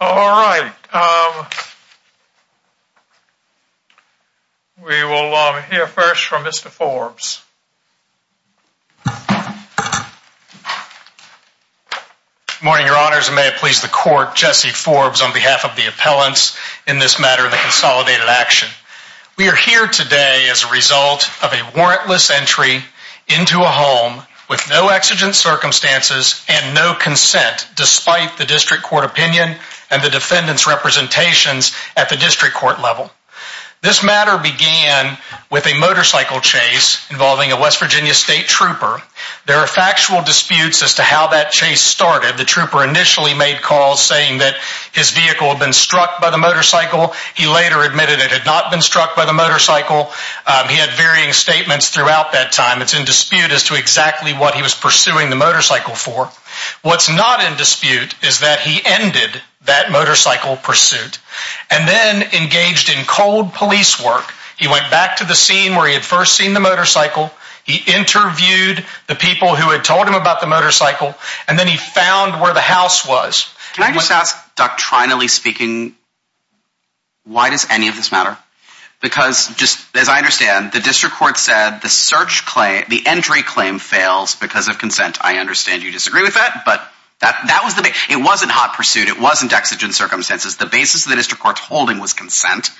All right, we will hear first from Mr. Forbes. Good morning, your honors, and may it please the court, Jesse Forbes on behalf of the appellants in this matter of the consolidated action. We are here today as a result of a warrantless entry into a home with no exigent circumstances and no consent, despite the district court opinion and the defendant's representations at the district court level. This matter began with a motorcycle chase involving a West Virginia state trooper. There are factual disputes as to how that chase started. The trooper initially made calls saying that his vehicle had been struck by the motorcycle. He later admitted it had not been struck by the motorcycle. He had varying statements throughout that time. It's in dispute as to exactly what he was pursuing the motorcycle for. What's not in dispute is that he ended that motorcycle pursuit and then engaged in cold police work. He went back to the scene where he had first seen the motorcycle. He interviewed the people who had told him about the motorcycle, and then he found where the house was. Can I just ask, doctrinally speaking, why does any of this matter? Because, just as I understand, the district court said the search claim, the entry claim, fails because of consent. I understand you disagree with that, but that was the base. It wasn't hot pursuit. It wasn't exigent circumstances. The basis of the district court's holding was consent,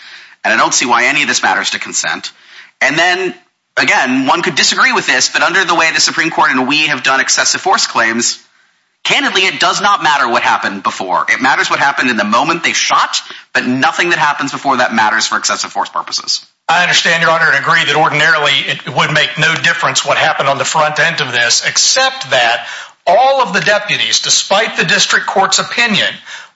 and I don't see why any of this matters to consent. And then, again, one could disagree with this, but under the way the Supreme Court and we have done excessive force claims, candidly, it does not matter what happened before. It matters what happened in the moment they shot, but nothing that happens before that matters for excessive force purposes. I understand, Your Honor, and agree that ordinarily it would make no difference what happened on the front end of this, except that all of the deputies, despite the district court's opinion,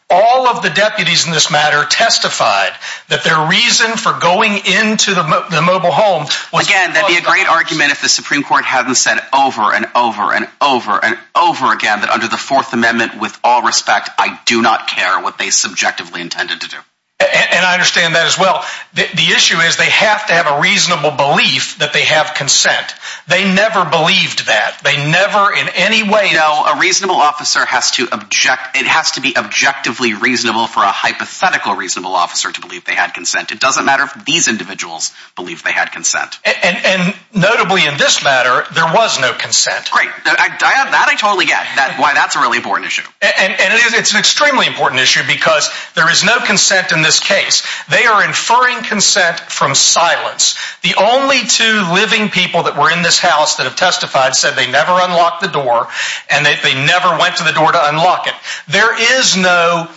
all of the deputies in this matter testified that their reason for going into the mobile home was because of consent. It would be a great argument if the Supreme Court hadn't said over and over and over and over again that under the Fourth Amendment, with all respect, I do not care what they subjectively intended to do. And I understand that as well. The issue is they have to have a reasonable belief that they have consent. They never believed that. They never in any way... No. A reasonable officer has to object... It has to be objectively reasonable for a hypothetical reasonable officer to believe they had consent. It doesn't matter if these individuals believe they had consent. And notably in this matter, there was no consent. Great. That I totally get, why that's a really important issue. And it's an extremely important issue because there is no consent in this case. They are inferring consent from silence. The only two living people that were in this house that have testified said they never unlocked the door and that they never went to the door to unlock it. There is no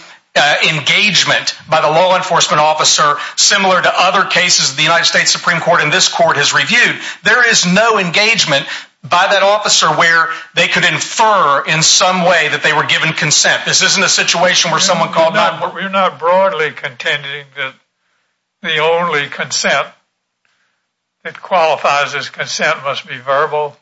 engagement by the law enforcement officer similar to other cases the United States Supreme Court and this court has reviewed. There is no engagement by that officer where they could infer in some way that they were given consent. This isn't a situation where someone called... We're not broadly contending that the only consent that qualifies as consent must be verbal.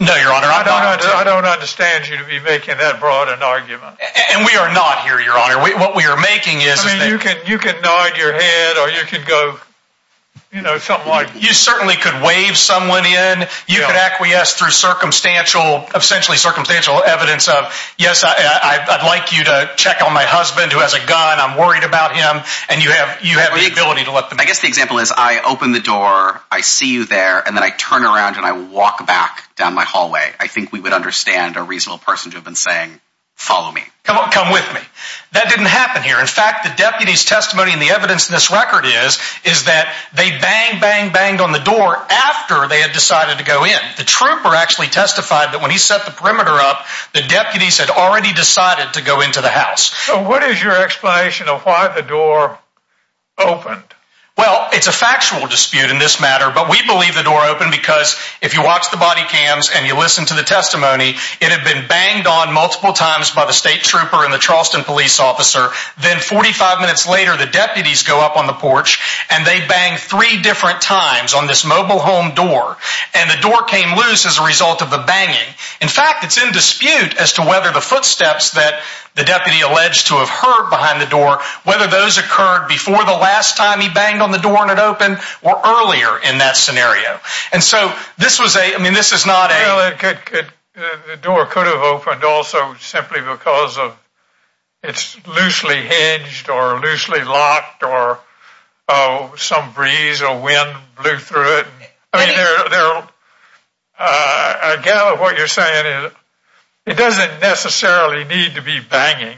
No, Your Honor, I'm not... I don't understand you to be making that broad an argument. And we are not here, Your Honor. What we are making is... You could nod your head or you could go, you know, something like... You certainly could wave someone in. You could acquiesce through circumstantial, essentially circumstantial evidence of, yes, I'd like you to check on my husband who has a gun. I'm worried about him. And you have the ability to let them... I guess the example is I open the door, I see you there, and then I turn around and I walk back down my hallway. I think we would understand a reasonable person to have been saying, follow me. Come with me. That didn't happen here. In fact, the deputy's testimony and the evidence in this record is is that they banged, banged, banged on the door after they had decided to go in. The trooper actually testified that when he set the perimeter up, the deputies had already decided to go into the house. So what is your explanation of why the door opened? Well, it's a factual dispute in this matter, but we believe the door opened because if you watch the body cams and you listen to the testimony, it had been banged on multiple times by the state trooper and the Charleston police officer, then 45 minutes later the deputies go up on the porch and they bang three different times on this mobile home door, and the door came loose as a result of the banging. In fact, it's in dispute as to whether the footsteps that the deputy alleged to have heard behind the door, whether those occurred before the last time he banged on the door and it opened or earlier in that scenario. And so this was a... I mean, this is not a... The door could have opened also simply because it's loosely hinged or loosely locked or some breeze or wind blew through it. I gather what you're saying is it doesn't necessarily need to be banging.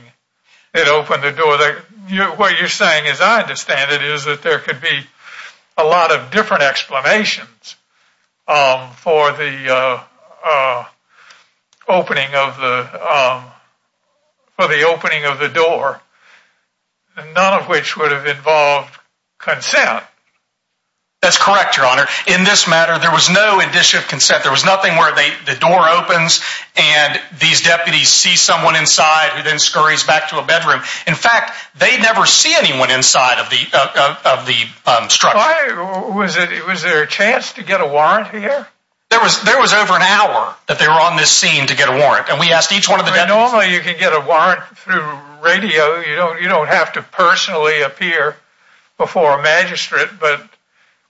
It opened the door. What you're saying, as I understand it, is that there could be a lot of different explanations for the opening of the door, none of which would have involved consent. That's correct, Your Honor. In this matter, there was no indicia of consent. There was nothing where the door opens and these deputies see someone inside who then scurries back to a bedroom. In fact, they never see anyone inside of the structure. Why? Was there a chance to get a warrant here? There was over an hour that they were on this scene to get a warrant. And we asked each one of the deputies... Normally you can get a warrant through radio. You don't have to personally appear before a magistrate. But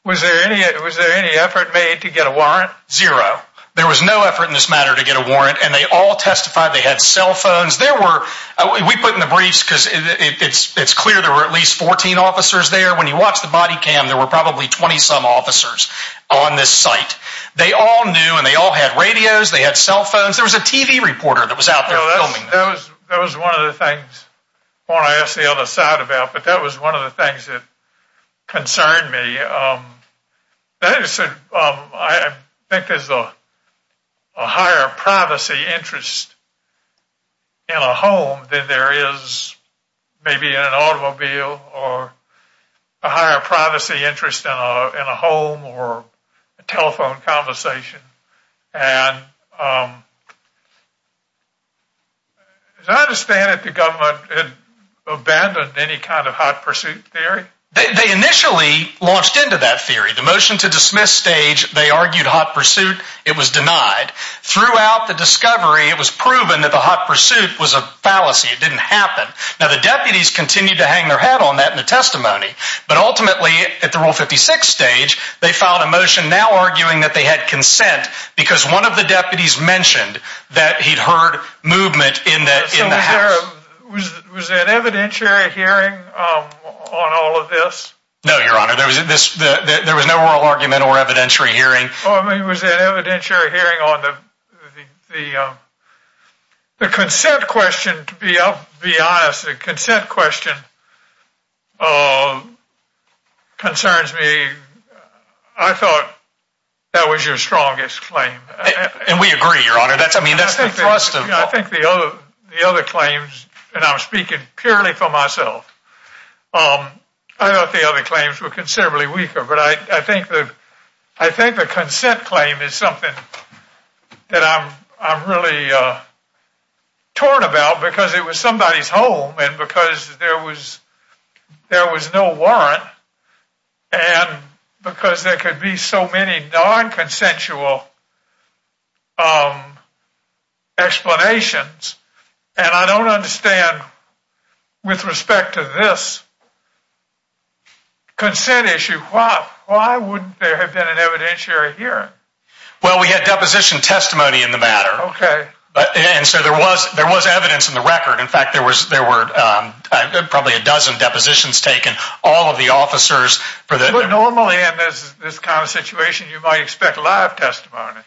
was there any effort made to get a warrant? Zero. There was no effort in this matter to get a warrant. And they all testified. They had cell phones. We put in the briefs because it's clear there were at least 14 officers there. When you watch the body cam, there were probably 20-some officers on this site. They all knew and they all had radios. They had cell phones. There was a TV reporter that was out there filming them. That was one of the things I want to ask the other side about. But that was one of the things that concerned me. I think there's a higher privacy interest in a home than there is maybe in an automobile or a higher privacy interest in a home or telephone conversation. And as I understand it, the government abandoned any kind of hot pursuit theory? They initially launched into that theory. The motion to dismiss stage, they argued hot pursuit. It was denied. Throughout the discovery, it was proven that the hot pursuit was a fallacy. It didn't happen. Now, the deputies continued to hang their head on that in the testimony. But ultimately, at the Rule 56 stage, they filed a motion now arguing that they had consent because one of the deputies mentioned that he'd heard movement in the house. So was there an evidentiary hearing on all of this? No, Your Honor. There was no oral argument or evidentiary hearing. Well, I mean, was there an evidentiary hearing on the consent question? To be honest, the consent question concerns me. I thought that was your strongest claim. And we agree, Your Honor. I think the other claims, and I'm speaking purely for myself, I thought the other claims were considerably weaker. But I think the consent claim is something that I'm really torn about because it was somebody's home and because there was no warrant and because there could be so many non-consensual explanations. And I don't understand, with respect to this consent issue, why wouldn't there have been an evidentiary hearing? Well, we had deposition testimony in the matter. Okay. And so there was evidence in the record. In fact, there were probably a dozen depositions taken, all of the officers. But normally in this kind of situation, you might expect live testimony.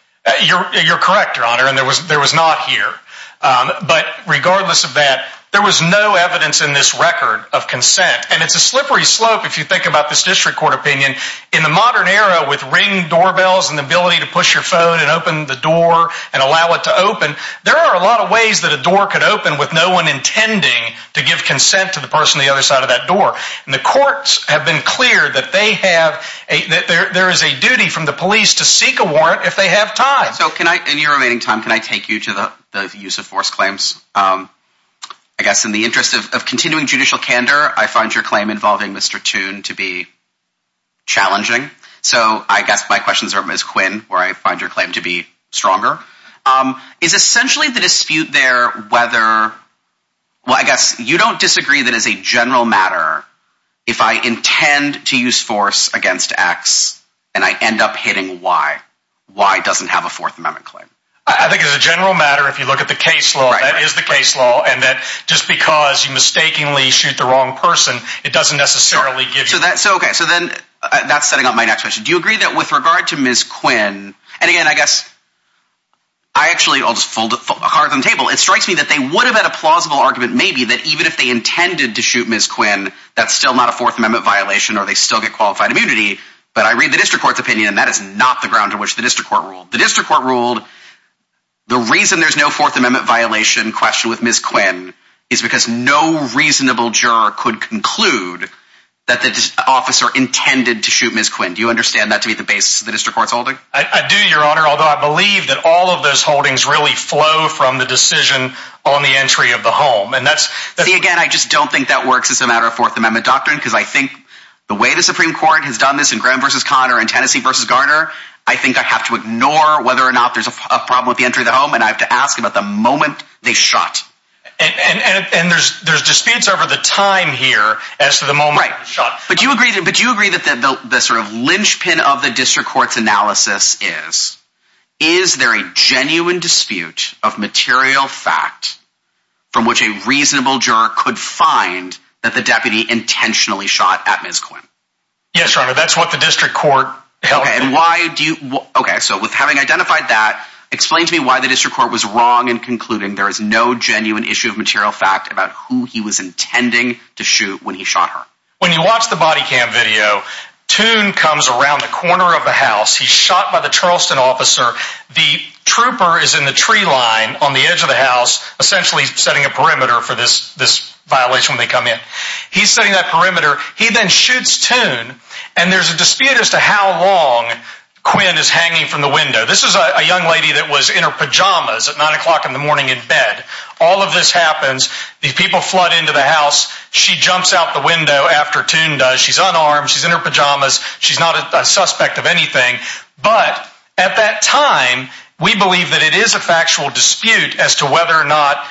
You're correct, Your Honor, and there was not here. But regardless of that, there was no evidence in this record of consent. And it's a slippery slope if you think about this district court opinion. In the modern era, with ring doorbells and the ability to push your phone and open the door and allow it to open, there are a lot of ways that a door could open with no one intending to give consent to the person on the other side of that door. And the courts have been clear that there is a duty from the police to seek a warrant if they have time. So in your remaining time, can I take you to the use of force claims? I guess in the interest of continuing judicial candor, I find your claim involving Mr. Toon to be challenging. So I guess my questions are Ms. Quinn, where I find your claim to be stronger. Is essentially the dispute there whether—well, I guess you don't disagree that as a general matter, if I intend to use force against X and I end up hitting Y, Y doesn't have a Fourth Amendment claim. I think as a general matter, if you look at the case law, that is the case law, and that just because you mistakenly shoot the wrong person, it doesn't necessarily give you— Okay, so then that's setting up my next question. Do you agree that with regard to Ms. Quinn—and again, I guess I actually— I'll just fold a card on the table. It strikes me that they would have had a plausible argument maybe that even if they intended to shoot Ms. Quinn, that's still not a Fourth Amendment violation or they still get qualified immunity. But I read the district court's opinion, and that is not the ground on which the district court ruled. The district court ruled the reason there's no Fourth Amendment violation question with Ms. Quinn is because no reasonable juror could conclude that the officer intended to shoot Ms. Quinn. Do you understand that to be the basis of the district court's holding? I do, Your Honor, although I believe that all of those holdings really flow from the decision on the entry of the home. See, again, I just don't think that works as a matter of Fourth Amendment doctrine because I think the way the Supreme Court has done this in Graham v. Conner and Tennessee v. Garner, I think I have to ignore whether or not there's a problem with the entry of the home, and I have to ask about the moment they shot. And there's disputes over the time here as to the moment they shot. But do you agree that the sort of linchpin of the district court's analysis is is there a genuine dispute of material fact from which a reasonable juror could find that the deputy intentionally shot at Ms. Quinn? Yes, Your Honor, that's what the district court held. Okay, so with having identified that, explain to me why the district court was wrong in concluding there is no genuine issue of material fact about who he was intending to shoot when he shot her. When you watch the body cam video, Toon comes around the corner of the house. He's shot by the Charleston officer. The trooper is in the tree line on the edge of the house, essentially setting a perimeter for this violation when they come in. He's setting that perimeter. He then shoots Toon. And there's a dispute as to how long Quinn is hanging from the window. This is a young lady that was in her pajamas at 9 o'clock in the morning in bed. All of this happens. These people flood into the house. She jumps out the window after Toon does. She's unarmed. She's in her pajamas. She's not a suspect of anything. But at that time, we believe that it is a factual dispute as to whether or not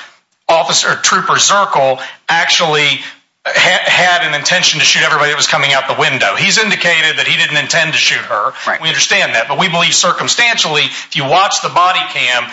Trooper Zirkle actually had an intention to shoot everybody that was coming out the window. He's indicated that he didn't intend to shoot her. We understand that. But we believe, circumstantially, if you watch the body cam,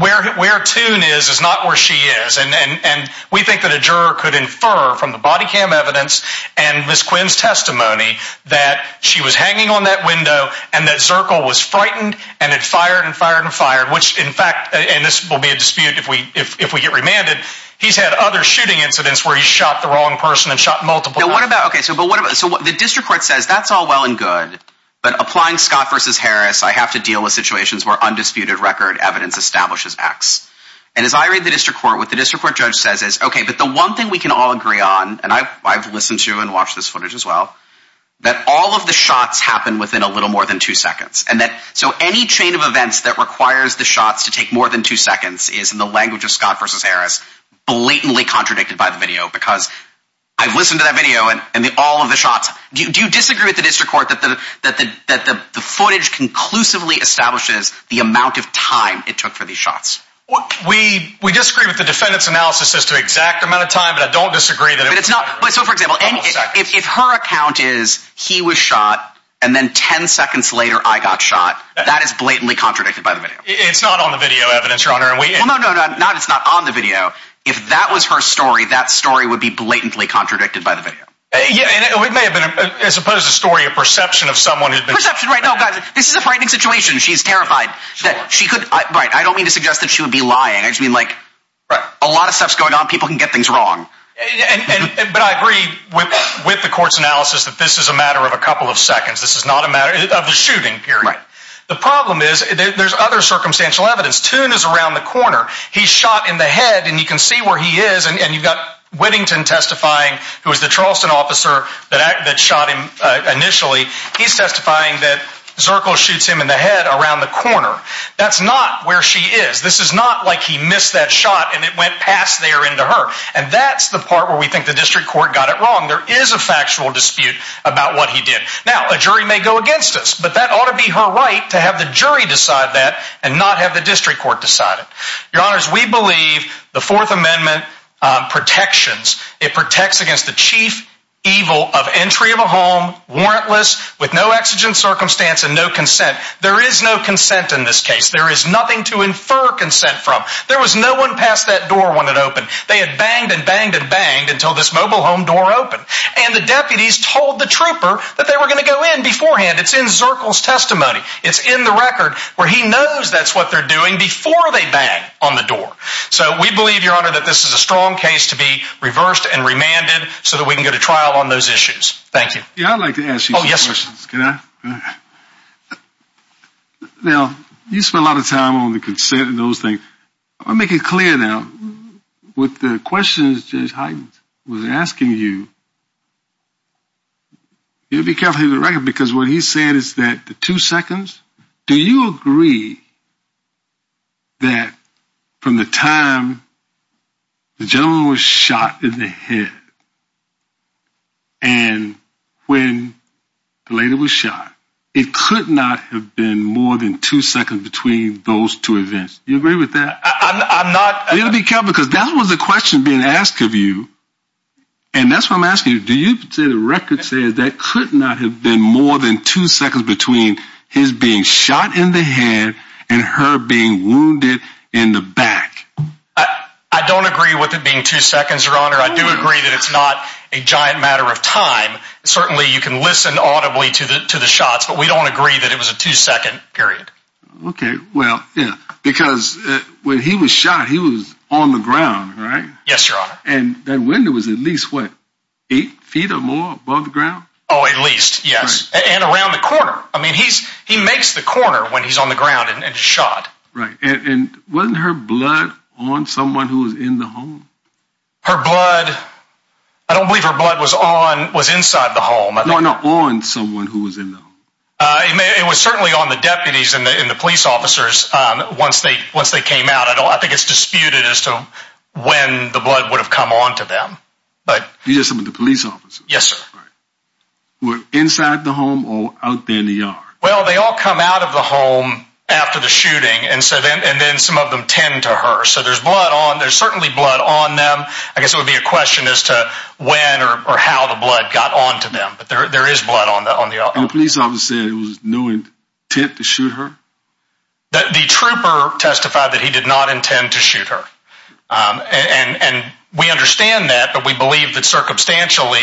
where Toon is is not where she is. And we think that a juror could infer from the body cam evidence and Ms. Quinn's testimony that she was hanging on that window and that Zirkle was frightened and had fired and fired and fired. Which, in fact, and this will be a dispute if we get remanded, he's had other shooting incidents where he's shot the wrong person and shot multiple people. The district court says that's all well and good. But applying Scott v. Harris, I have to deal with situations where undisputed record evidence establishes X. And as I read the district court, what the district court judge says is, OK, but the one thing we can all agree on, and I've listened to and watched this footage as well, that all of the shots happen within a little more than two seconds. So any chain of events that requires the shots to take more than two seconds is, in the language of Scott v. Harris, blatantly contradicted by the video. Because I've listened to that video and all of the shots. Do you disagree with the district court that the footage conclusively establishes the amount of time it took for these shots? We disagree with the defendant's analysis as to the exact amount of time, but I don't disagree that it was more than two seconds. So, for example, if her account is, he was shot, and then ten seconds later I got shot, that is blatantly contradicted by the video. It's not on the video evidence, Your Honor. No, no, no, it's not on the video. If that was her story, that story would be blatantly contradicted by the video. It may have been, as opposed to story, a perception of someone who'd been shot. Perception, right. No, guys, this is a frightening situation. She's terrified. I don't mean to suggest that she would be lying. I just mean, like, a lot of stuff's going on. People can get things wrong. But I agree with the court's analysis that this is a matter of a couple of seconds. This is not a matter of the shooting period. Right. The problem is, there's other circumstantial evidence. Toon is around the corner. He's shot in the head, and you can see where he is, and you've got Whittington testifying, who was the Charleston officer that shot him initially. He's testifying that Zirkle shoots him in the head around the corner. That's not where she is. This is not like he missed that shot and it went past there into her. And that's the part where we think the district court got it wrong. There is a factual dispute about what he did. Now, a jury may go against us, but that ought to be her right to have the jury decide that and not have the district court decide it. Your Honors, we believe the Fourth Amendment protections. It protects against the chief evil of entry of a home, warrantless, with no exigent circumstance and no consent. There is no consent in this case. There is nothing to infer consent from. There was no one past that door when it opened. They had banged and banged and banged until this mobile home door opened. And the deputies told the trooper that they were going to go in beforehand. It's in Zirkle's testimony. It's in the record where he knows that's what they're doing before they bang on the door. So we believe, Your Honor, that this is a strong case to be reversed and remanded so that we can go to trial on those issues. Thank you. Yeah, I'd like to ask you some questions. Oh, yes. Can I? Now, you spend a lot of time on the consent and those things. I'll make it clear now. With the questions Judge Hyden was asking you, you'll be careful with the record because what he said is that the two seconds, do you agree that from the time the gentleman was shot in the head and when the lady was shot, it could not have been more than two seconds between those two events. Do you agree with that? I'm not. You'll be careful because that was the question being asked of you. And that's why I'm asking you, do you say the record says that could not have been more than two seconds between his being shot in the head and her being wounded in the back? I don't agree with it being two seconds, Your Honor. I do agree that it's not a giant matter of time. Certainly, you can listen audibly to the shots, but we don't agree that it was a two-second period. Okay, well, yeah, because when he was shot, he was on the ground, right? Yes, Your Honor. And that window was at least, what, eight feet or more above the ground? Oh, at least, yes, and around the corner. I mean, he makes the corner when he's on the ground and shot. Right, and wasn't her blood on someone who was in the home? Her blood, I don't believe her blood was on, was inside the home. No, no, on someone who was in the home. It was certainly on the deputies and the police officers once they came out. I think it's disputed as to when the blood would have come on to them. You said some of the police officers? Yes, sir. Who were inside the home or out there in the yard? Well, they all come out of the home after the shooting, and then some of them tend to her. So there's blood on, there's certainly blood on them. I guess it would be a question as to when or how the blood got on to them. But there is blood on the officers. And the police officer said it was no intent to shoot her? The trooper testified that he did not intend to shoot her. And we understand that, but we believe that circumstantially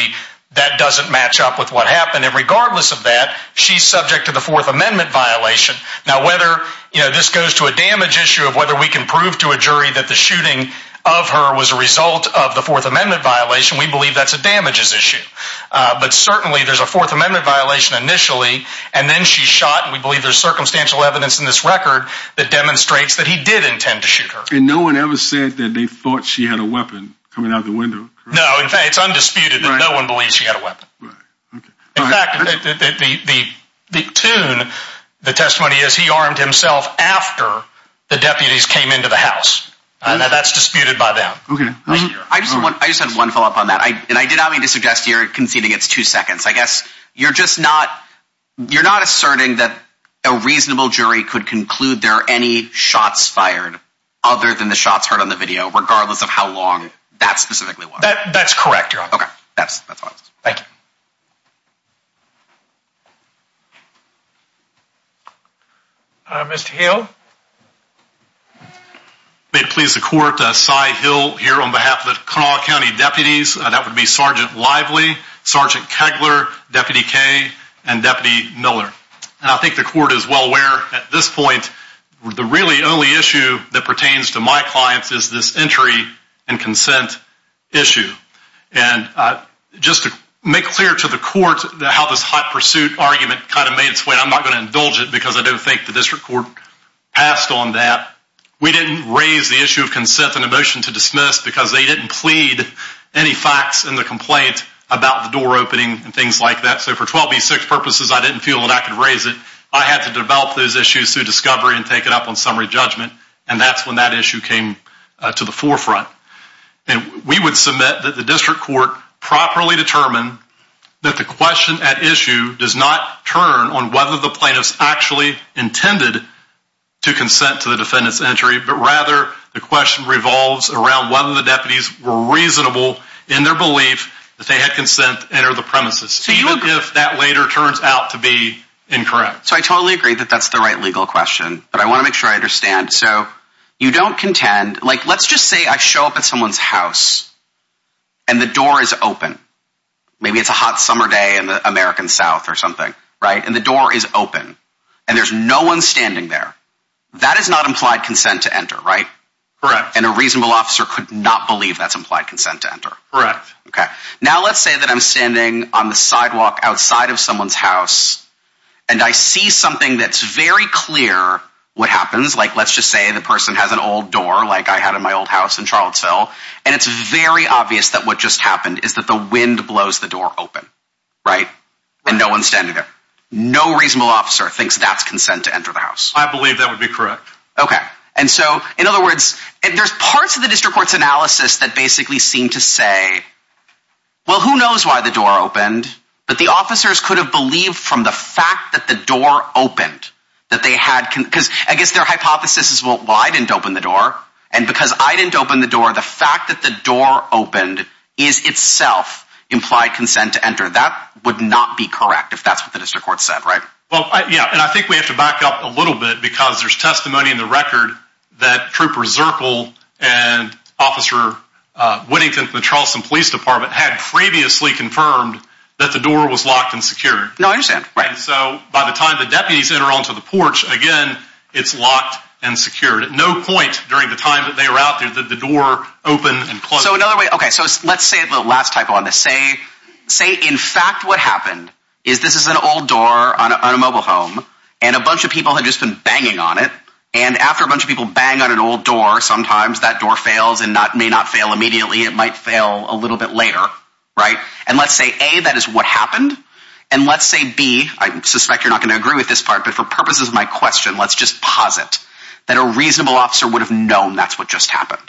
that doesn't match up with what happened. And regardless of that, she's subject to the Fourth Amendment violation. Now, whether this goes to a damage issue of whether we can prove to a jury that the shooting of her was a result of the Fourth Amendment violation, we believe that's a damages issue. But certainly there's a Fourth Amendment violation initially, and then she shot, and we believe there's circumstantial evidence in this record that demonstrates that he did intend to shoot her. And no one ever said that they thought she had a weapon coming out of the window? No, in fact, it's undisputed that no one believes she had a weapon. In fact, the tune, the testimony is he armed himself after the deputies came into the house. That's disputed by them. I just have one follow-up on that, and I did not mean to suggest you're conceding it's two seconds. I guess you're just not asserting that a reasonable jury could conclude there are any shots fired other than the shots heard on the video, regardless of how long that specifically was. That's correct, Your Honor. Okay, that's all. Thank you. Mr. Hill? May it please the court, Cy Hill here on behalf of the Kanawha County deputies. That would be Sergeant Lively, Sergeant Kegler, Deputy Kaye, and Deputy Miller. And I think the court is well aware at this point the really only issue that pertains to my clients is this entry and consent issue. And just to make clear to the court how this hot pursuit argument kind of made its way, I'm not going to indulge it because I don't think the district court passed on that. We didn't raise the issue of consent in a motion to dismiss because they didn't plead any facts in the complaint about the door opening and things like that. So for 12B6 purposes, I didn't feel that I could raise it. I had to develop those issues through discovery and take it up on summary judgment, and that's when that issue came to the forefront. And we would submit that the district court properly determined that the question at issue does not turn on whether the plaintiff's actually intended to consent to the defendant's entry, but rather the question revolves around whether the deputies were reasonable in their belief that they had consent to enter the premises, even if that later turns out to be incorrect. So I totally agree that that's the right legal question, but I want to make sure I understand. So you don't contend—let's just say I show up at someone's house and the door is open. Maybe it's a hot summer day in the American South or something, right, and the door is open and there's no one standing there. That is not implied consent to enter, right? Correct. And a reasonable officer could not believe that's implied consent to enter. Correct. Now let's say that I'm standing on the sidewalk outside of someone's house, and I see something that's very clear what happens. Let's just say the person has an old door like I had in my old house in Charlottesville, and it's very obvious that what just happened is that the wind blows the door open, right? And no one's standing there. No reasonable officer thinks that's consent to enter the house. I believe that would be correct. Okay, and so in other words, there's parts of the district court's analysis that basically seem to say, well, who knows why the door opened, but the officers could have believed from the fact that the door opened that they had—because I guess their hypothesis is, well, I didn't open the door, and because I didn't open the door, the fact that the door opened is itself implied consent to enter. That would not be correct if that's what the district court said, right? Well, yeah, and I think we have to back up a little bit because there's testimony in the record that Trooper Zirkle and Officer Whittington from the Charleston Police Department had previously confirmed that the door was locked and secured. No, I understand. And so by the time the deputies enter onto the porch, again, it's locked and secured. At no point during the time that they were out there did the door open and close. So another way—okay, so let's say the last typo on this. Say, in fact, what happened is this is an old door on a mobile home, and a bunch of people had just been banging on it, and after a bunch of people bang on an old door, sometimes that door fails and may not fail immediately. It might fail a little bit later, right? And let's say, A, that is what happened, and let's say, B—I suspect you're not going to agree with this part, but for purposes of my question, let's just posit that a reasonable officer would have known that's what just happened.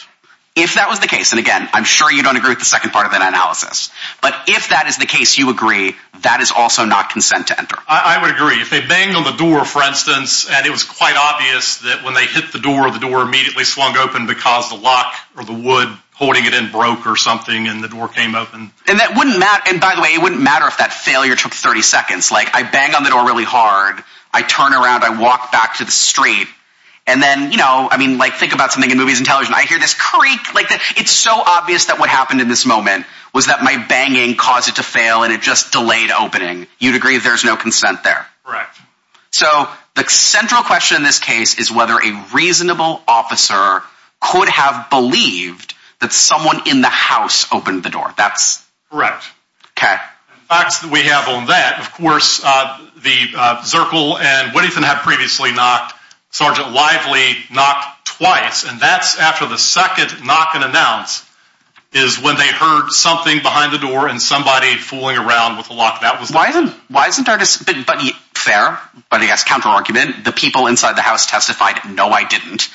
If that was the case—and again, I'm sure you don't agree with the second part of that analysis—but if that is the case, you agree, that is also not consent to enter. I would agree. If they banged on the door, for instance, and it was quite obvious that when they hit the door, the door immediately swung open because the lock or the wood holding it in broke or something, and the door came open. And that wouldn't matter—and by the way, it wouldn't matter if that failure took 30 seconds. Like, I bang on the door really hard, I turn around, I walk back to the street, and then, you know, I mean, like, think about something in movies and television. I hear this creak, like, it's so obvious that what happened in this moment was that my banging caused it to fail, and it just delayed opening. You'd agree there's no consent there? Correct. So, the central question in this case is whether a reasonable officer could have believed that someone in the house opened the door. That's— Correct. Okay. The facts that we have on that, of course, Zirkle and Whittington had previously knocked, Sergeant Lively knocked twice, and that's after the second knock and announce is when they heard something behind the door and somebody fooling around with the lock. Why isn't our—but, fair, but I guess counter-argument, the people inside the house testified, no, I didn't.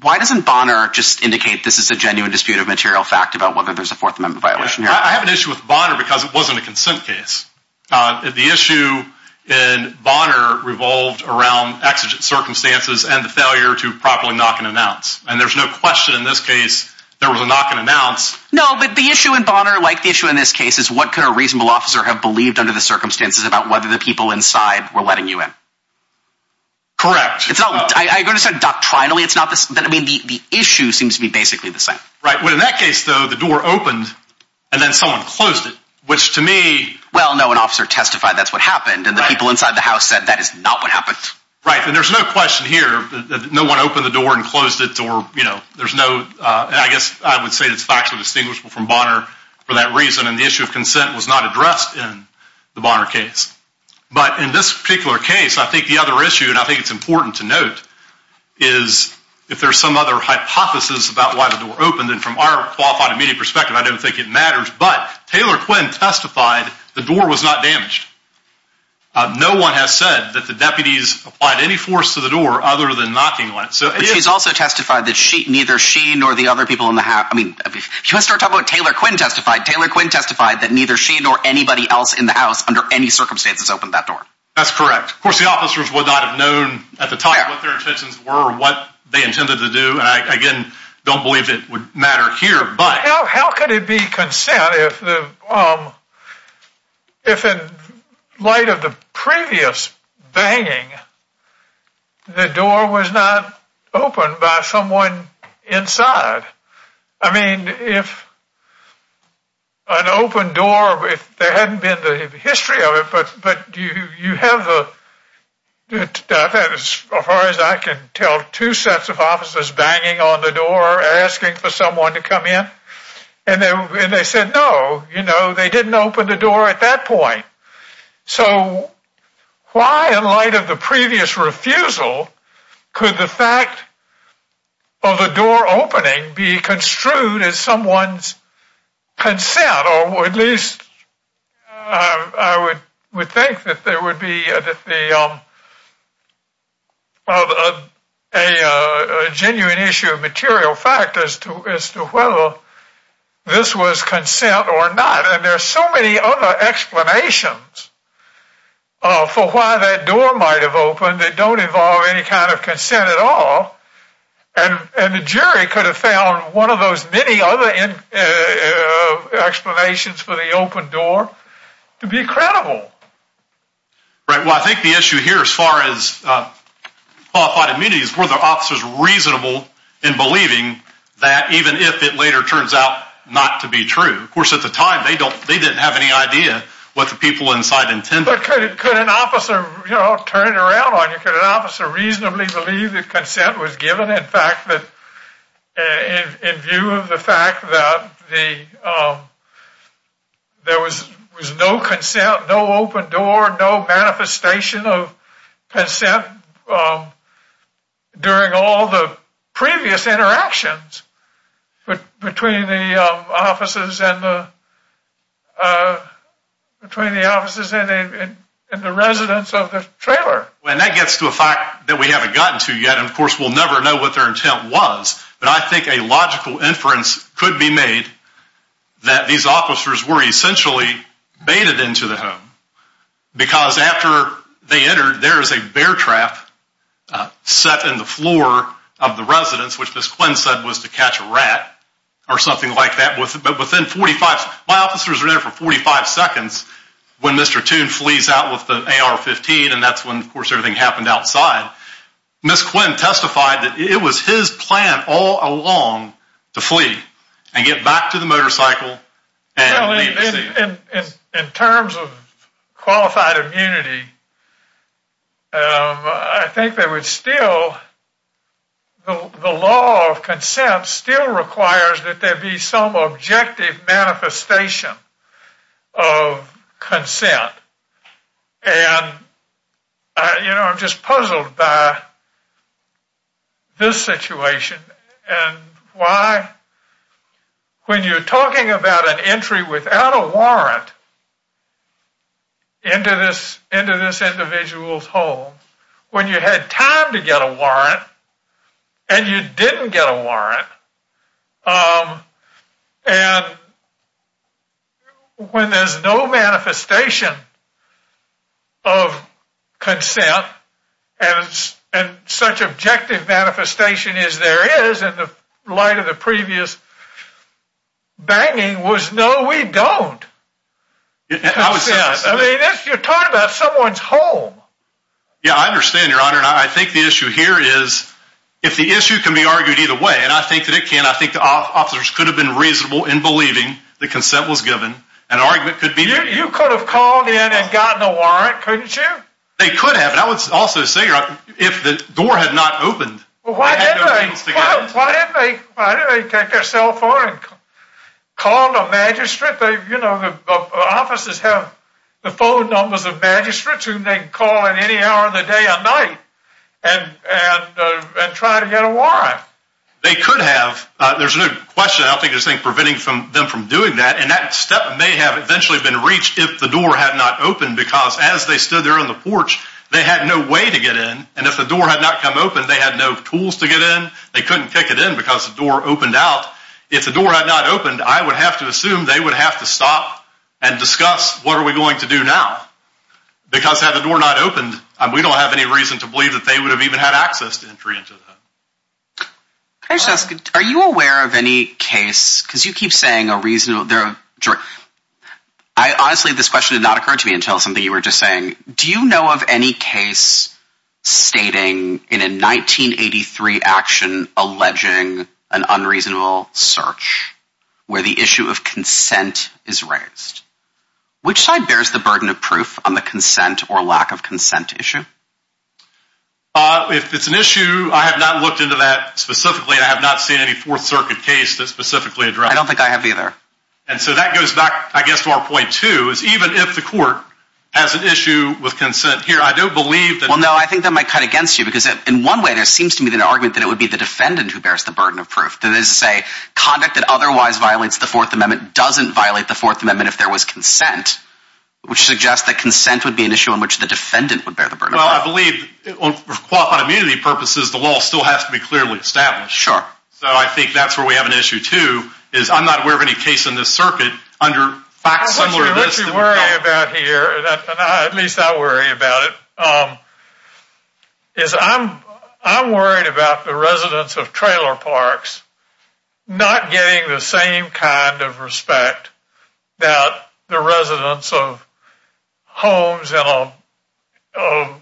Why doesn't Bonner just indicate this is a genuine dispute of material fact about whether there's a Fourth Amendment violation here? I have an issue with Bonner because it wasn't a consent case. The issue in Bonner revolved around exigent circumstances and the failure to properly knock and announce, and there's no question in this case there was a knock and announce. No, but the issue in Bonner, like the issue in this case, is what could a reasonable officer have believed under the circumstances about whether the people inside were letting you in? Correct. It's not—are you going to say doctrinally it's not—I mean, the issue seems to be basically the same. Right, but in that case, though, the door opened and then someone closed it, which to me— Well, no, an officer testified that's what happened, and the people inside the house said that is not what happened. Right, and there's no question here that no one opened the door and closed it, or, you know, there's no—I guess I would say it's factually distinguishable from Bonner for that reason, and the issue of consent was not addressed in the Bonner case. But in this particular case, I think the other issue, and I think it's important to note, is if there's some other hypothesis about why the door opened, and from our qualified immediate perspective, I don't think it matters, but Taylor Quinn testified the door was not damaged. No one has said that the deputies applied any force to the door other than knocking on it. But she's also testified that neither she nor the other people in the house—I mean, if you want to start talking about Taylor Quinn testified, Taylor Quinn testified that neither she nor anybody else in the house under any circumstances opened that door. That's correct. Of course, the officers would not have known at the time what their intentions were or what they intended to do, and I, again, don't believe it would matter here, but— You know, how could it be consent if, in light of the previous banging, the door was not opened by someone inside? I mean, if an open door—if there hadn't been the history of it, but you have the—as far as I can tell, two sets of officers banging on the door asking for someone to come in, and they said, no, you know, they didn't open the door at that point. So why, in light of the previous refusal, could the fact of the door opening be construed as someone's consent, or at least I would think that there would be a genuine issue of material fact as to whether this was consent or not? And there are so many other explanations for why that door might have opened that don't involve any kind of consent at all, and the jury could have found one of those many other explanations for the open door to be credible. Right. Well, I think the issue here, as far as qualified immunity, is were the officers reasonable in believing that, even if it later turns out not to be true? Of course, at the time, they didn't have any idea what the people inside intended. But could an officer, you know, turn it around on you? Could an officer reasonably believe that consent was given? In fact, in view of the fact that there was no consent, no open door, no manifestation of consent during all the previous interactions between the officers and the— between the officers and the residents of the trailer. And that gets to a fact that we haven't gotten to yet, and of course we'll never know what their intent was, but I think a logical inference could be made that these officers were essentially baited into the home. Because after they entered, there is a bear trap set in the floor of the residence, which Ms. Quinn said was to catch a rat or something like that, but within 45—my officers are there for 45 seconds when Mr. Toon flees out with the AR-15, and that's when, of course, everything happened outside. Ms. Quinn testified that it was his plan all along to flee and get back to the motorcycle and leave the scene. In terms of qualified immunity, I think there would still—the law of consent still requires that there be some objective manifestation of consent. And, you know, I'm just puzzled by this situation and why, when you're talking about an entry without a warrant into this individual's home, when you had time to get a warrant and you didn't get a warrant, and when there's no manifestation of consent and such objective manifestation as there is in the light of the previous banging was, no, we don't. I mean, you're talking about someone's home. Yeah, I understand, Your Honor, and I think the issue here is, if the issue can be argued either way, and I think that it can, I think the officers could have been reasonable in believing that consent was given. An argument could be— You could have called in and gotten a warrant, couldn't you? They could have, and I would also say, Your Honor, if the door had not opened— Why didn't they take their cell phone and call the magistrate? You know, the officers have the phone numbers of magistrates whom they can call at any hour of the day or night and try to get a warrant. They could have. There's no question, I don't think there's anything preventing them from doing that, and that step may have eventually been reached if the door had not opened because, as they stood there on the porch, they had no way to get in, and if the door had not come open, they had no tools to get in, they couldn't kick it in because the door opened out. If the door had not opened, I would have to assume they would have to stop and discuss, what are we going to do now? Because had the door not opened, we don't have any reason to believe that they would have even had access to entry into the home. Are you aware of any case—because you keep saying a reasonable—honestly, this question did not occur to me until something you were just saying. Do you know of any case stating in a 1983 action alleging an unreasonable search where the issue of consent is raised? Which side bears the burden of proof on the consent or lack of consent issue? If it's an issue, I have not looked into that specifically, and I have not seen any Fourth Circuit case that specifically addressed it. I don't think I have either. And so that goes back, I guess, to our point, too, is even if the court has an issue with consent here, I don't believe that— Well, no, I think that might cut against you, because in one way there seems to be an argument that it would be the defendant who bears the burden of proof. That is to say, conduct that otherwise violates the Fourth Amendment doesn't violate the Fourth Amendment if there was consent, which suggests that consent would be an issue on which the defendant would bear the burden of proof. Well, I believe on immunity purposes the law still has to be clearly established. Sure. So I think that's where we have an issue, too, is I'm not aware of any case in this circuit under facts similar to this— What you're really worried about here, and at least I worry about it, is I'm worried about the residents of trailer parks not getting the same kind of respect that the residents of homes and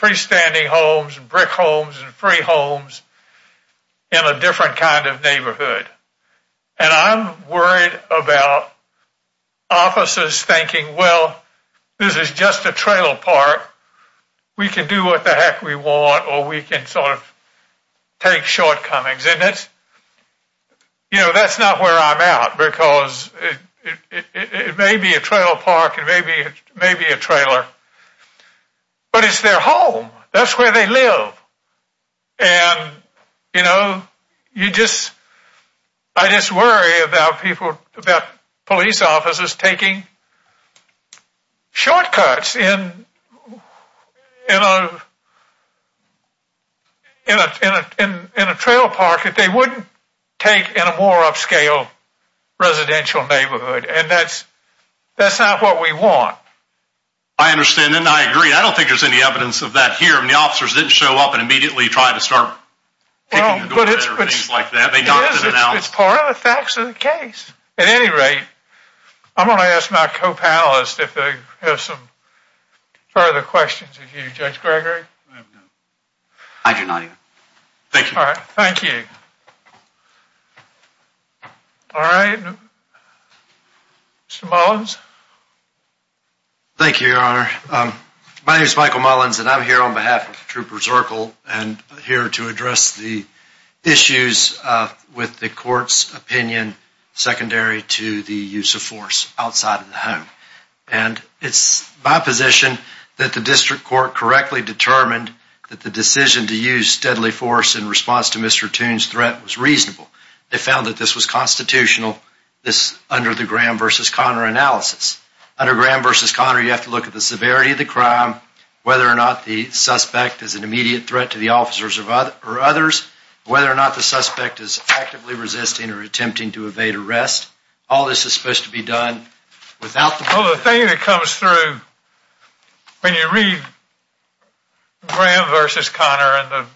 freestanding homes, brick homes, and free homes in a different kind of neighborhood. And I'm worried about officers thinking, well, this is just a trailer park. We can do what the heck we want, or we can sort of take shortcomings. And that's not where I'm at, because it may be a trail park, it may be a trailer, but it's their home. That's where they live. And, you know, I just worry about police officers taking shortcuts in a trail park that they wouldn't take in a more upscale residential neighborhood. And that's not what we want. I understand, and I agree. I don't think there's any evidence of that here. I mean, the officers didn't show up and immediately try to start kicking the door down or things like that. It's part of the facts of the case. At any rate, I'm going to ask my co-panelists if they have some further questions of you, Judge Gregory. I do not. Thank you. All right, thank you. All right, Mr. Mullins. Thank you, Your Honor. My name is Michael Mullins, and I'm here on behalf of Trooper Zirkle and here to address the issues with the court's opinion secondary to the use of force outside of the home. And it's my position that the district court correctly determined that the decision to use deadly force in response to Mr. Toon's threat was reasonable. They found that this was constitutional under the Graham v. Conner analysis. Under Graham v. Conner, you have to look at the severity of the crime, whether or not the suspect is an immediate threat to the officers or others, whether or not the suspect is actively resisting or attempting to evade arrest. All this is supposed to be done without the police. Well, the thing that comes through when you read Graham v. Conner and the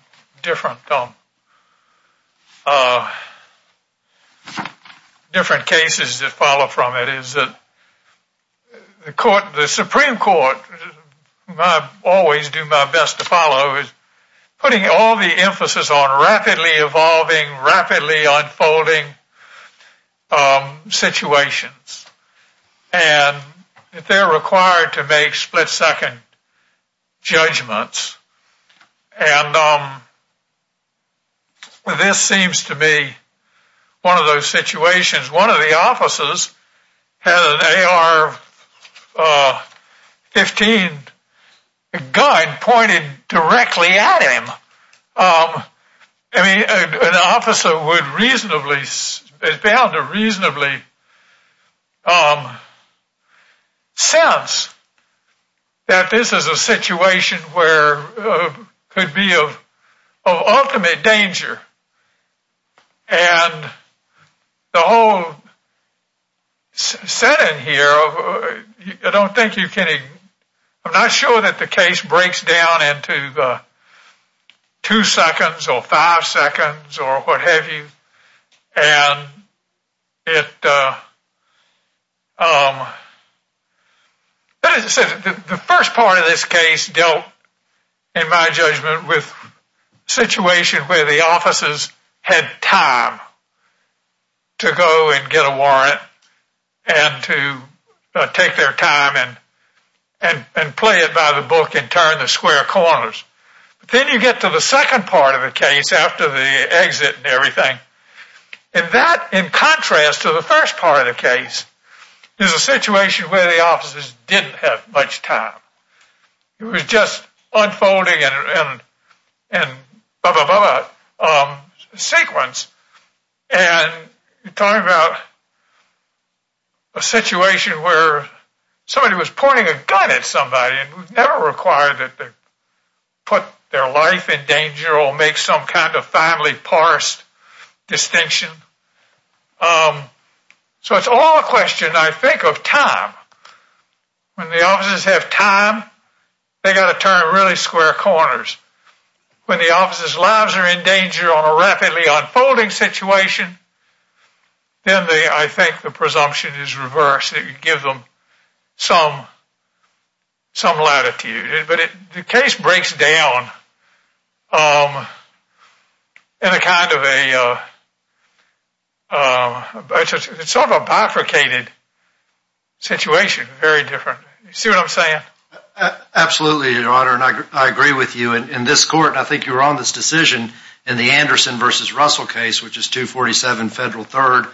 different cases that follow from it is that the Supreme Court, which I always do my best to follow, is putting all the emphasis on rapidly evolving, rapidly unfolding situations. And if they're required to make split second judgments, and this seems to be one of those situations. One of the officers had an AR-15 gun pointed directly at him. I mean, an officer would reasonably, is bound to reasonably sense that this is a situation where it could be of ultimate danger. And the whole setting here, I don't think you can, I'm not sure that the case breaks down into the two seconds or five seconds or what have you. But as I said, the first part of this case dealt, in my judgment, with a situation where the officers had time to go and get a warrant and to take their time and play it by the book and turn the square corners. But then you get to the second part of the case after the exit and everything. And that, in contrast to the first part of the case, is a situation where the officers didn't have much time. It was just unfolding in a sequence. And you're talking about a situation where somebody was pointing a gun at somebody and never required that they put their life in danger or make some kind of family parsed distinction. So it's all a question, I think, of time. When the officers have time, they've got to turn really square corners. When the officers' lives are in danger on a rapidly unfolding situation, then I think the presumption is reversed. It gives them some latitude. But the case breaks down in a kind of a bifurcated situation. Very different. See what I'm saying? Absolutely, Your Honor. And I agree with you. I think you were on this decision in the Anderson v. Russell case, which is 247 Federal 3rd,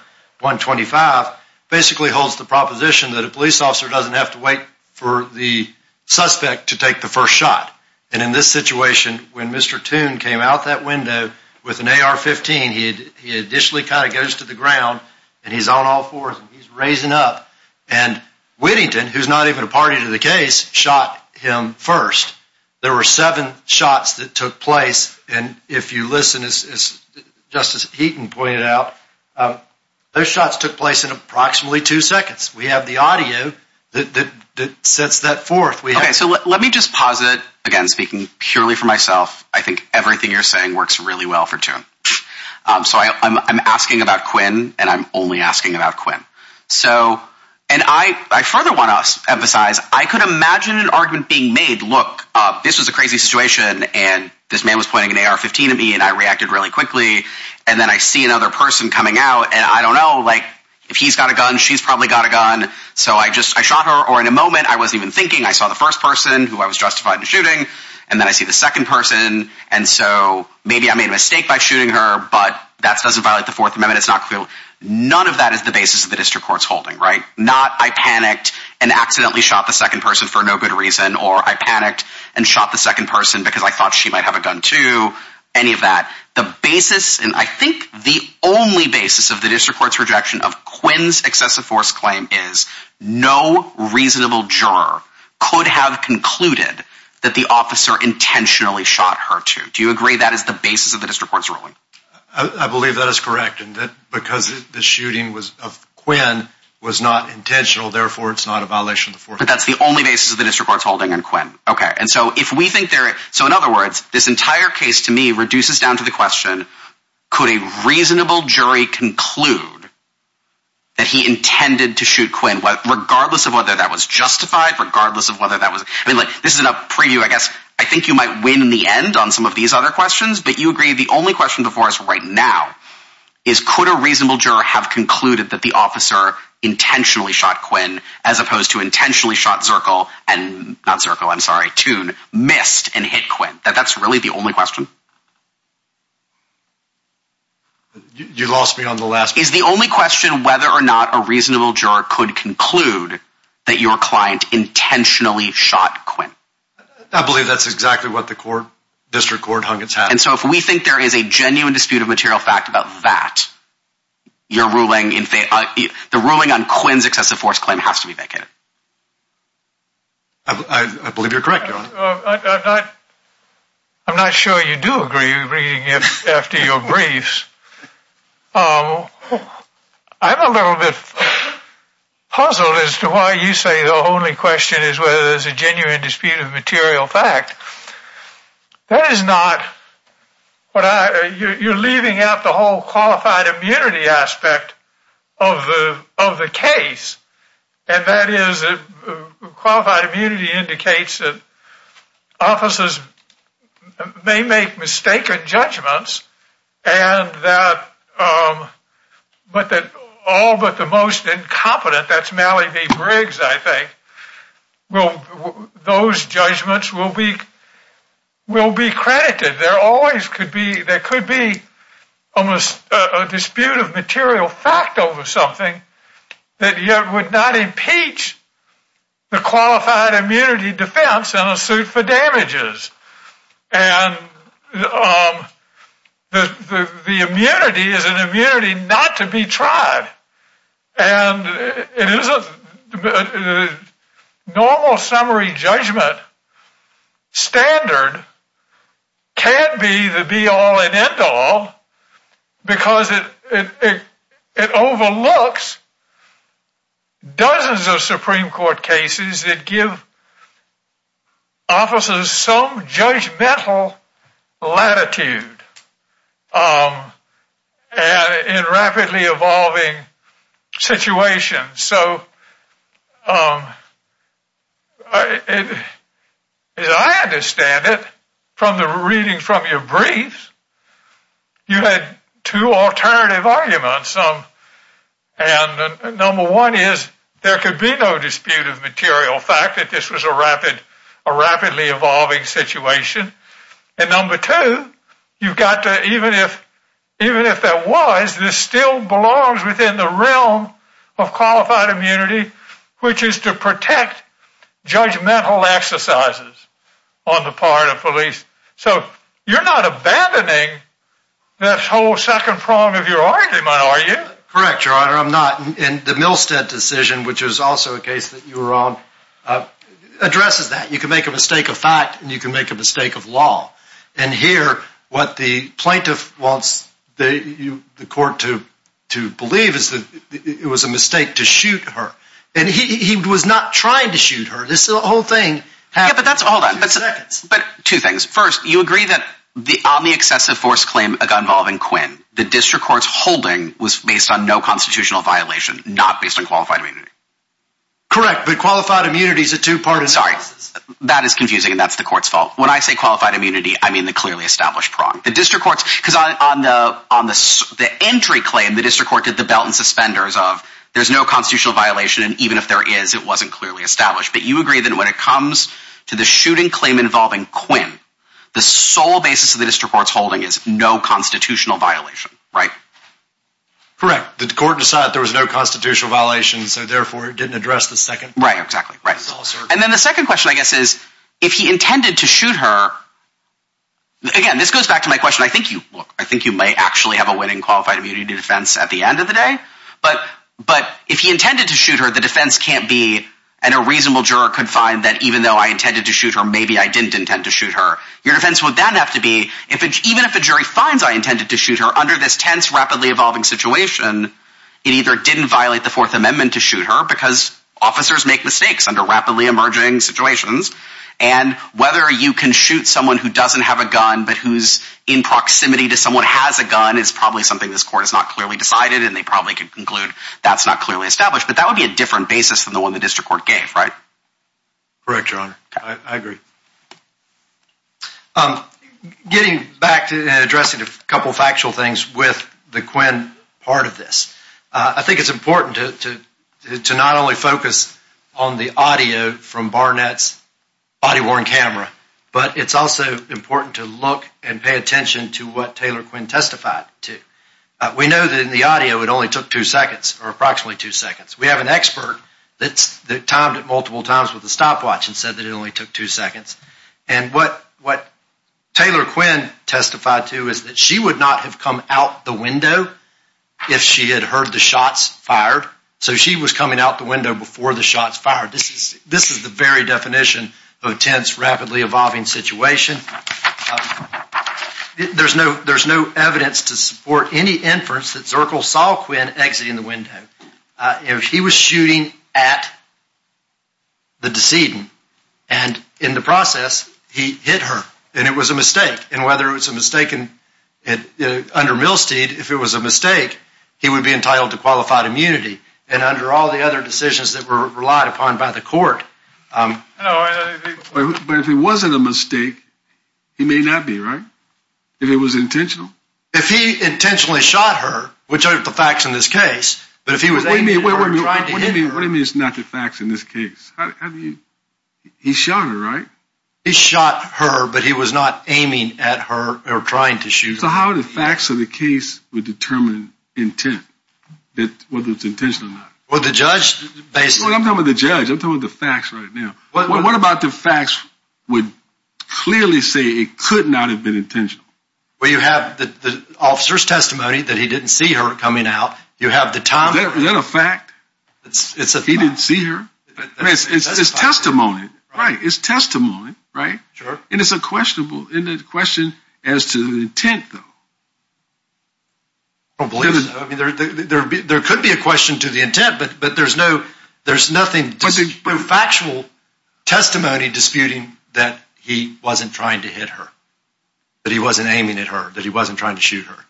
125, basically holds the proposition that a police officer doesn't have to wait for the suspect to take the first shot. And in this situation, when Mr. Toon came out that window with an AR-15, he initially kind of goes to the ground and he's on all fours and he's raising up. And Whittington, who's not even a party to the case, shot him first. There were seven shots that took place. And if you listen, as Justice Heaton pointed out, those shots took place in approximately two seconds. We have the audio that sets that forth. Okay, so let me just posit, again, speaking purely for myself, I think everything you're saying works really well for Toon. So I'm asking about Quinn, and I'm only asking about Quinn. And I further want to emphasize, I could imagine an argument being made, look, this was a crazy situation, and this man was pointing an AR-15 at me, and I reacted really quickly. And then I see another person coming out, and I don't know, like, if he's got a gun, she's probably got a gun. So I shot her, or in a moment, I wasn't even thinking, I saw the first person who I was justified in shooting, and then I see the second person. And so maybe I made a mistake by shooting her, but that doesn't violate the Fourth Amendment. It's not clear. None of that is the basis of the district court's holding, right? Not, I panicked and accidentally shot the second person for no good reason, or I panicked and shot the second person because I thought she might have a gun, too, any of that. The basis, and I think the only basis of the district court's rejection of Quinn's excessive force claim is no reasonable juror could have concluded that the officer intentionally shot her, too. Do you agree that is the basis of the district court's ruling? I believe that is correct, and that because the shooting of Quinn was not intentional, therefore it's not a violation of the Fourth Amendment. But that's the only basis of the district court's holding on Quinn. Okay, and so if we think they're, so in other words, this entire case to me reduces down to the question, could a reasonable jury conclude that he intended to shoot Quinn, regardless of whether that was justified, regardless of whether that was, I mean, like, this is a preview, I guess, I think you might win in the end on some of these other questions, but you agree the only question before us right now is could a reasonable juror have concluded that the officer intentionally shot Quinn, as opposed to intentionally shot Zirkle and, not Zirkle, I'm sorry, Toon, missed and hit Quinn? That's really the only question? You lost me on the last one. Is the only question whether or not a reasonable juror could conclude that your client intentionally shot Quinn? I believe that's exactly what the court, district court hung its hat on. And so if we think there is a genuine dispute of material fact about that, your ruling, the ruling on Quinn's excessive force claim has to be vacated. I believe you're correct, Your Honor. I'm not sure you do agree after your briefs. I'm a little bit puzzled as to why you say the only question is whether there's a genuine dispute of material fact. That is not what I, you're leaving out the whole qualified immunity aspect of the case, and that is qualified immunity indicates that officers may make mistaken judgments, and that all but the most incompetent, that's Mallee v. Briggs, I think, those judgments will be credited. There could be a dispute of material fact over something that yet would not impeach the qualified immunity defense in a suit for damages. And the immunity is an immunity not to be tried. And it is a normal summary judgment standard can be the be all and end all because it overlooks dozens of Supreme Court cases that give officers some judgmental latitude in rapidly evolving situations. So as I understand it from the reading from your briefs, you had two alternative arguments. And number one is there could be no dispute of material fact that this was a rapidly evolving situation. And number two, you've got to, even if that was, this still belongs within the realm of qualified immunity, which is to protect judgmental exercises on the part of police. So you're not abandoning that whole second prong of your argument, are you? Correct, Your Honor, I'm not. And the Milstead decision, which is also a case that you were on, addresses that. You can make a mistake of fact and you can make a mistake of law. And here, what the plaintiff wants the court to believe is that it was a mistake to shoot her. And he was not trying to shoot her. This whole thing happened in two seconds. But two things. First, you agree that the omni-excessive force claim involving Quinn, the district court's holding was based on no constitutional violation, not based on qualified immunity. Correct, but qualified immunity is a two-parter. Sorry, that is confusing and that's the court's fault. When I say qualified immunity, I mean the clearly established prong. Because on the entry claim, the district court did the belt and suspenders of there's no constitutional violation, and even if there is, it wasn't clearly established. But you agree that when it comes to the shooting claim involving Quinn, the sole basis of the district court's holding is no constitutional violation, right? Correct. The court decided there was no constitutional violation, so therefore it didn't address the second prong. Right, exactly. And then the second question I guess is, if he intended to shoot her, again, this goes back to my question, I think you may actually have a winning qualified immunity defense at the end of the day, but if he intended to shoot her, the defense can't be, and a reasonable juror could find that even though I intended to shoot her, maybe I didn't intend to shoot her. Your defense would then have to be, even if a jury finds I intended to shoot her under this tense, rapidly evolving situation, it either didn't violate the Fourth Amendment to shoot her, because officers make mistakes under rapidly emerging situations, and whether you can shoot someone who doesn't have a gun, but who's in proximity to someone who has a gun, is probably something this court has not clearly decided, and they probably can conclude that's not clearly established. But that would be a different basis than the one the district court gave, right? Correct, your honor. I agree. Getting back to addressing a couple of factual things with the Quinn part of this, I think it's important to not only focus on the audio from Barnett's body-worn camera, but it's also important to look and pay attention to what Taylor Quinn testified to. We know that in the audio it only took two seconds, or approximately two seconds. We have an expert that timed it multiple times with a stopwatch and said that it only took two seconds. And what Taylor Quinn testified to is that she would not have come out the window if she had heard the shots fired. So she was coming out the window before the shots fired. This is the very definition of a tense, rapidly evolving situation. There's no evidence to support any inference that Zirkle saw Quinn exiting the window. If he was shooting at the decedent, and in the process, he hit her, and it was a mistake. And whether it was a mistake under Milsteed, if it was a mistake, he would be entitled to qualified immunity. And under all the other decisions that were relied upon by the court... But if it wasn't a mistake, he may not be, right? If it was intentional? If he intentionally shot her, which are the facts in this case, but if he was aiming at her and trying to hit her... What do you mean it's not the facts in this case? He shot her, right? He shot her, but he was not aiming at her or trying to shoot her. So how are the facts of the case would determine intent, whether it's intentional or not? Well, the judge... I'm talking about the judge. I'm talking about the facts right now. What about the facts would clearly say it could not have been intentional? Well, you have the officer's testimony that he didn't see her coming out. You have the time... Is that a fact? It's a fact. He didn't see her? I mean, it's testimony, right? It's testimony, right? Sure. And it's a question as to the intent, though. I don't believe so. I mean, there could be a question to the intent, but there's nothing... that he wasn't trying to hit her, that he wasn't aiming at her, that he wasn't trying to shoot her.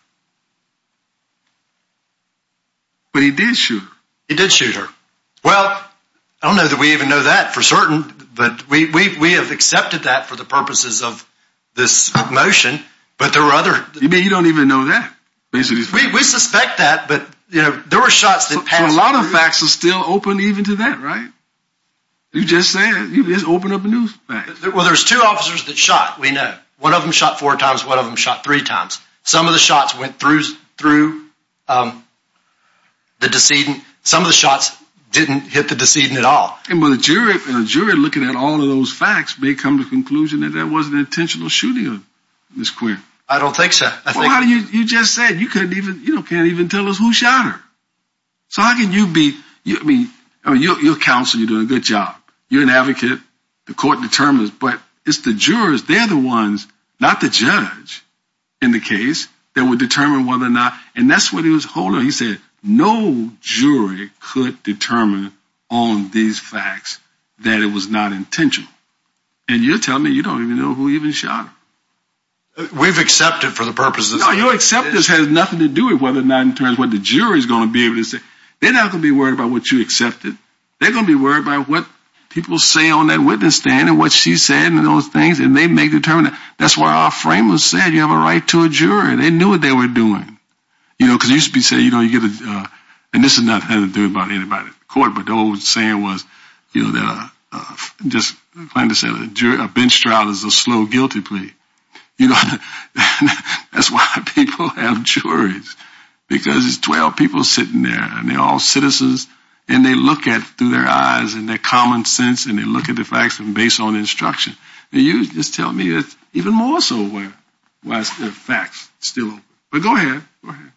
But he did shoot her. He did shoot her. Well, I don't know that we even know that for certain, but we have accepted that for the purposes of this motion, but there were other... You mean you don't even know that? We suspect that, but there were shots that passed... A lot of facts are still open even to that, right? You just said, you just opened up a new fact. Well, there's two officers that shot, we know. One of them shot four times, one of them shot three times. Some of the shots went through the decedent. Some of the shots didn't hit the decedent at all. But a jury looking at all of those facts may come to the conclusion that that wasn't an intentional shooting of Ms. Quinn. I don't think so. Well, you just said, you can't even tell us who shot her. So how can you be... I mean, your counsel, you're doing a good job. You're an advocate, the court determines, but it's the jurors, they're the ones, not the judge in the case, that would determine whether or not... And that's what he was holding. He said, no jury could determine on these facts that it was not intentional. And you're telling me you don't even know who even shot her. We've accepted for the purposes of... No, your acceptance has nothing to do with whether or not in terms of what the jury is going to be able to say. They're not going to be worried about what you accepted. They're going to be worried about what people say on that witness stand and what she said and those things, and they may determine that. That's what our framers said, you have a right to a jury. They knew what they were doing. You know, because you used to be saying, you know, you get a... And this has nothing to do with anybody in the court, but the old saying was, you know, just plain to say, a bench trial is a slow guilty plea. You know, that's why people have juries, because it's 12 people sitting there, and they're all citizens, and they look through their eyes and their common sense, and they look at the facts based on instruction. And you just tell me even more so why the facts still... But go ahead, go ahead.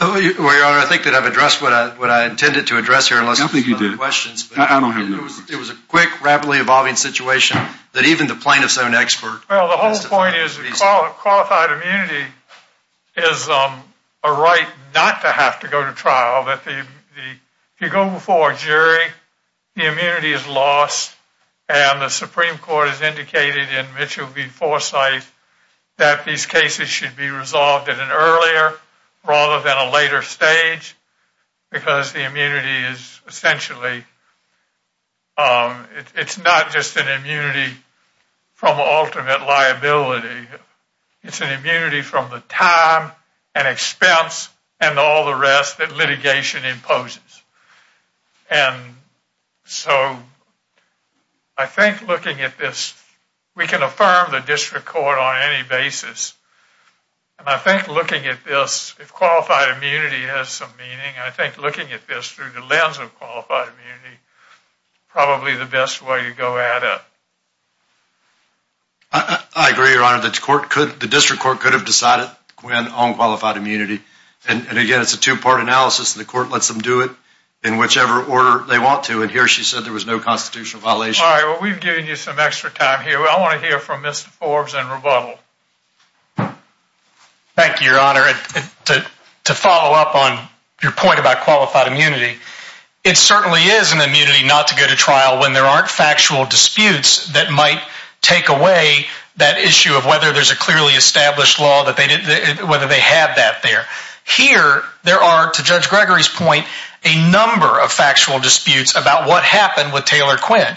Well, Your Honor, I think that I've addressed what I intended to address here. I think you did. I don't have any questions. I don't have any questions. It was a quick, rapidly evolving situation that even the plaintiff's own expert... Well, the whole point is qualified immunity is a right not to have to go to trial. If you go before a jury, the immunity is lost, and the Supreme Court has indicated in Mitchell v. Forsyth that these cases should be resolved at an earlier rather than a later stage, because the immunity is essentially... It's not just an immunity from ultimate liability. It's an immunity from the time and expense and all the rest that litigation imposes. And so I think looking at this, we can affirm the district court on any basis. And I think looking at this, if qualified immunity has some meaning, I think looking at this through the lens of qualified immunity is probably the best way to go at it. I agree, Your Honor. The district court could have decided on qualified immunity. And again, it's a two-part analysis, and the court lets them do it in whichever order they want to. And here she said there was no constitutional violation. All right. Well, we've given you some extra time here. I want to hear from Mr. Forbes and rebuttal. Thank you, Your Honor. To follow up on your point about qualified immunity, it certainly is an immunity not to go to trial when there aren't factual disputes that might take away that issue of whether there's a clearly established law, whether they have that there. Here there are, to Judge Gregory's point, a number of factual disputes about what happened with Taylor Quinn.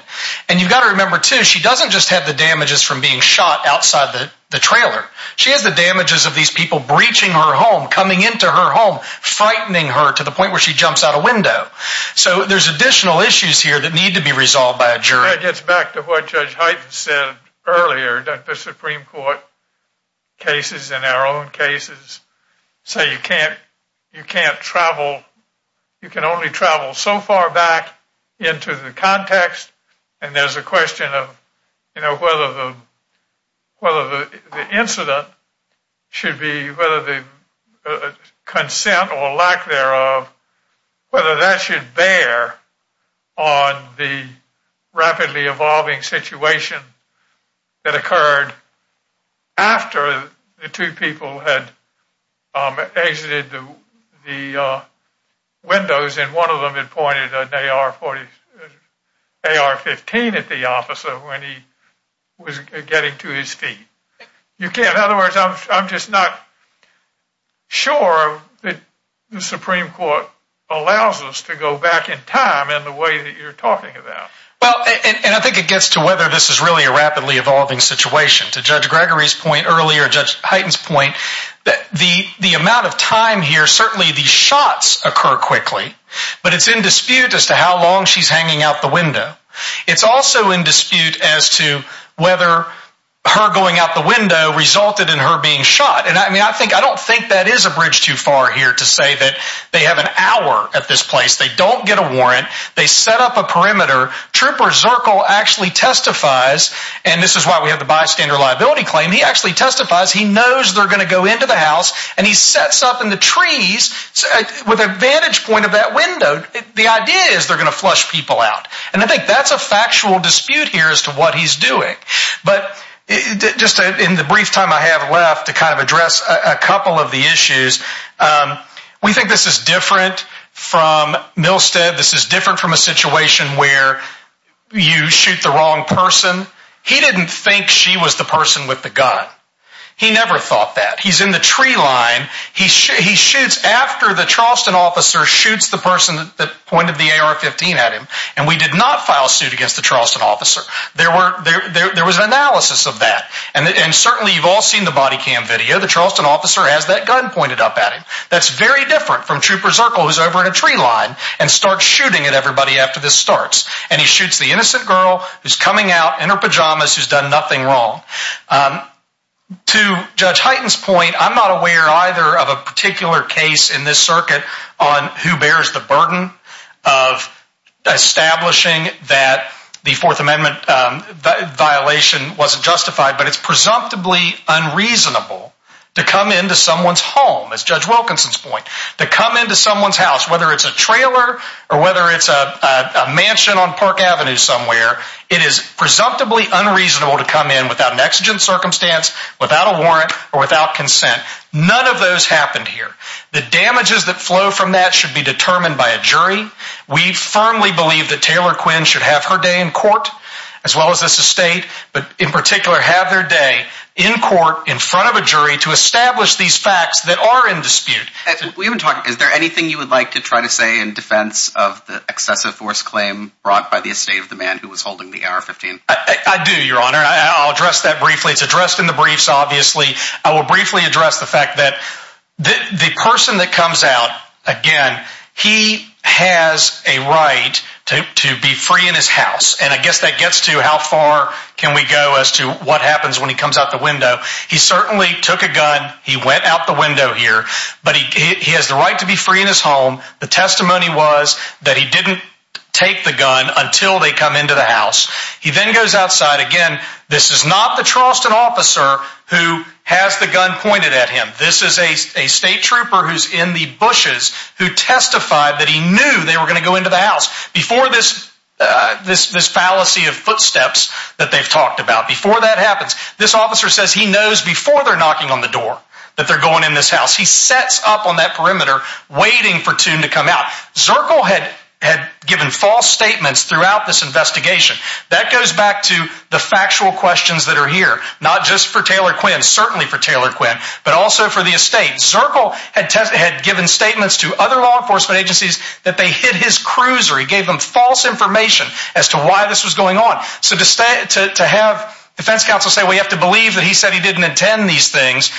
And you've got to remember, too, she doesn't just have the damages from being shot outside the trailer. She has the damages of these people breaching her home, coming into her home, frightening her to the point where she jumps out a window. So there's additional issues here that need to be resolved by a jury. That gets back to what Judge Hyten said earlier that the Supreme Court cases and our own cases say you can't travel, you can only travel so far back into the context, and there's a question of whether the incident should be, whether the consent or lack thereof, whether that should bear on the rapidly evolving situation that occurred after the two people had exited the windows and one of them had pointed an AR-15 at the officer when he was getting to his feet. In other words, I'm just not sure that the Supreme Court allows us to go back in time in the way that you're talking about. Well, and I think it gets to whether this is really a rapidly evolving situation. To Judge Gregory's point earlier, Judge Hyten's point, the amount of time here, certainly the shots occur quickly, but it's in dispute as to how long she's hanging out the window. It's also in dispute as to whether her going out the window resulted in her being shot. And I mean, I don't think that is a bridge too far here to say that they have an hour at this place. They don't get a warrant. They set up a perimeter. Trooper Zirkle actually testifies, and this is why we have the bystander liability claim. He actually testifies. He knows they're going to go into the house, and he sets up in the trees with a vantage point of that window. The idea is they're going to flush people out, and I think that's a factual dispute here as to what he's doing. But just in the brief time I have left to kind of address a couple of the issues, we think this is different from Milstead. This is different from a situation where you shoot the wrong person. He didn't think she was the person with the gun. He never thought that. He's in the tree line. He shoots after the Charleston officer shoots the person that pointed the AR-15 at him, and we did not file suit against the Charleston officer. There was an analysis of that, and certainly you've all seen the body cam video. The Charleston officer has that gun pointed up at him. That's very different from Trooper Zirkle who's over in a tree line and starts shooting at everybody after this starts, and he shoots the innocent girl who's coming out in her pajamas who's done nothing wrong. To Judge Hyten's point, I'm not aware either of a particular case in this circuit on who bears the burden of establishing that the Fourth Amendment violation wasn't justified, but it's presumptively unreasonable to come into someone's home, as Judge Wilkinson's point, to come into someone's house, whether it's a trailer or whether it's a mansion on Park Avenue somewhere. It is presumptively unreasonable to come in without an exigent circumstance, without a warrant, or without consent. None of those happened here. The damages that flow from that should be determined by a jury. We firmly believe that Taylor Quinn should have her day in court, as well as this estate, but in particular have their day in court in front of a jury to establish these facts that are in dispute. Is there anything you would like to try to say in defense of the excessive force claim brought by the estate of the man who was holding the AR-15? I do, Your Honor. I'll address that briefly. It's addressed in the briefs, obviously. I will briefly address the fact that the person that comes out, again, he has a right to be free in his house, and I guess that gets to how far can we go as to what happens when he comes out the window. He certainly took a gun. He went out the window here, but he has the right to be free in his home. The testimony was that he didn't take the gun until they come into the house. He then goes outside. Again, this is not the Charleston officer who has the gun pointed at him. This is a state trooper who's in the bushes who testified that he knew they were going to go into the house before this fallacy of footsteps that they've talked about. Before that happens, this officer says he knows before they're knocking on the door that they're going in this house. He sets up on that perimeter waiting for Toome to come out. Zirkle had given false statements throughout this investigation. That goes back to the factual questions that are here, not just for Taylor Quinn, certainly for Taylor Quinn, but also for the estate. Zirkle had given statements to other law enforcement agencies that they hid his cruiser. He gave them false information as to why this was going on. So to have defense counsel say, well, you have to believe that he said he didn't intend these things,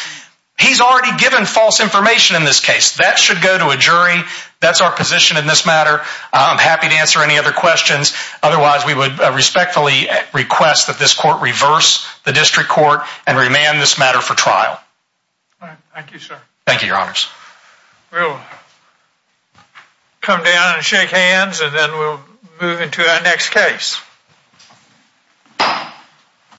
he's already given false information in this case. That should go to a jury. That's our position in this matter. I'm happy to answer any other questions. Otherwise, we would respectfully request that this court reverse the district court and remand this matter for trial. Thank you, sir. Thank you, Your Honors. We'll come down and shake hands and then we'll move into our next case.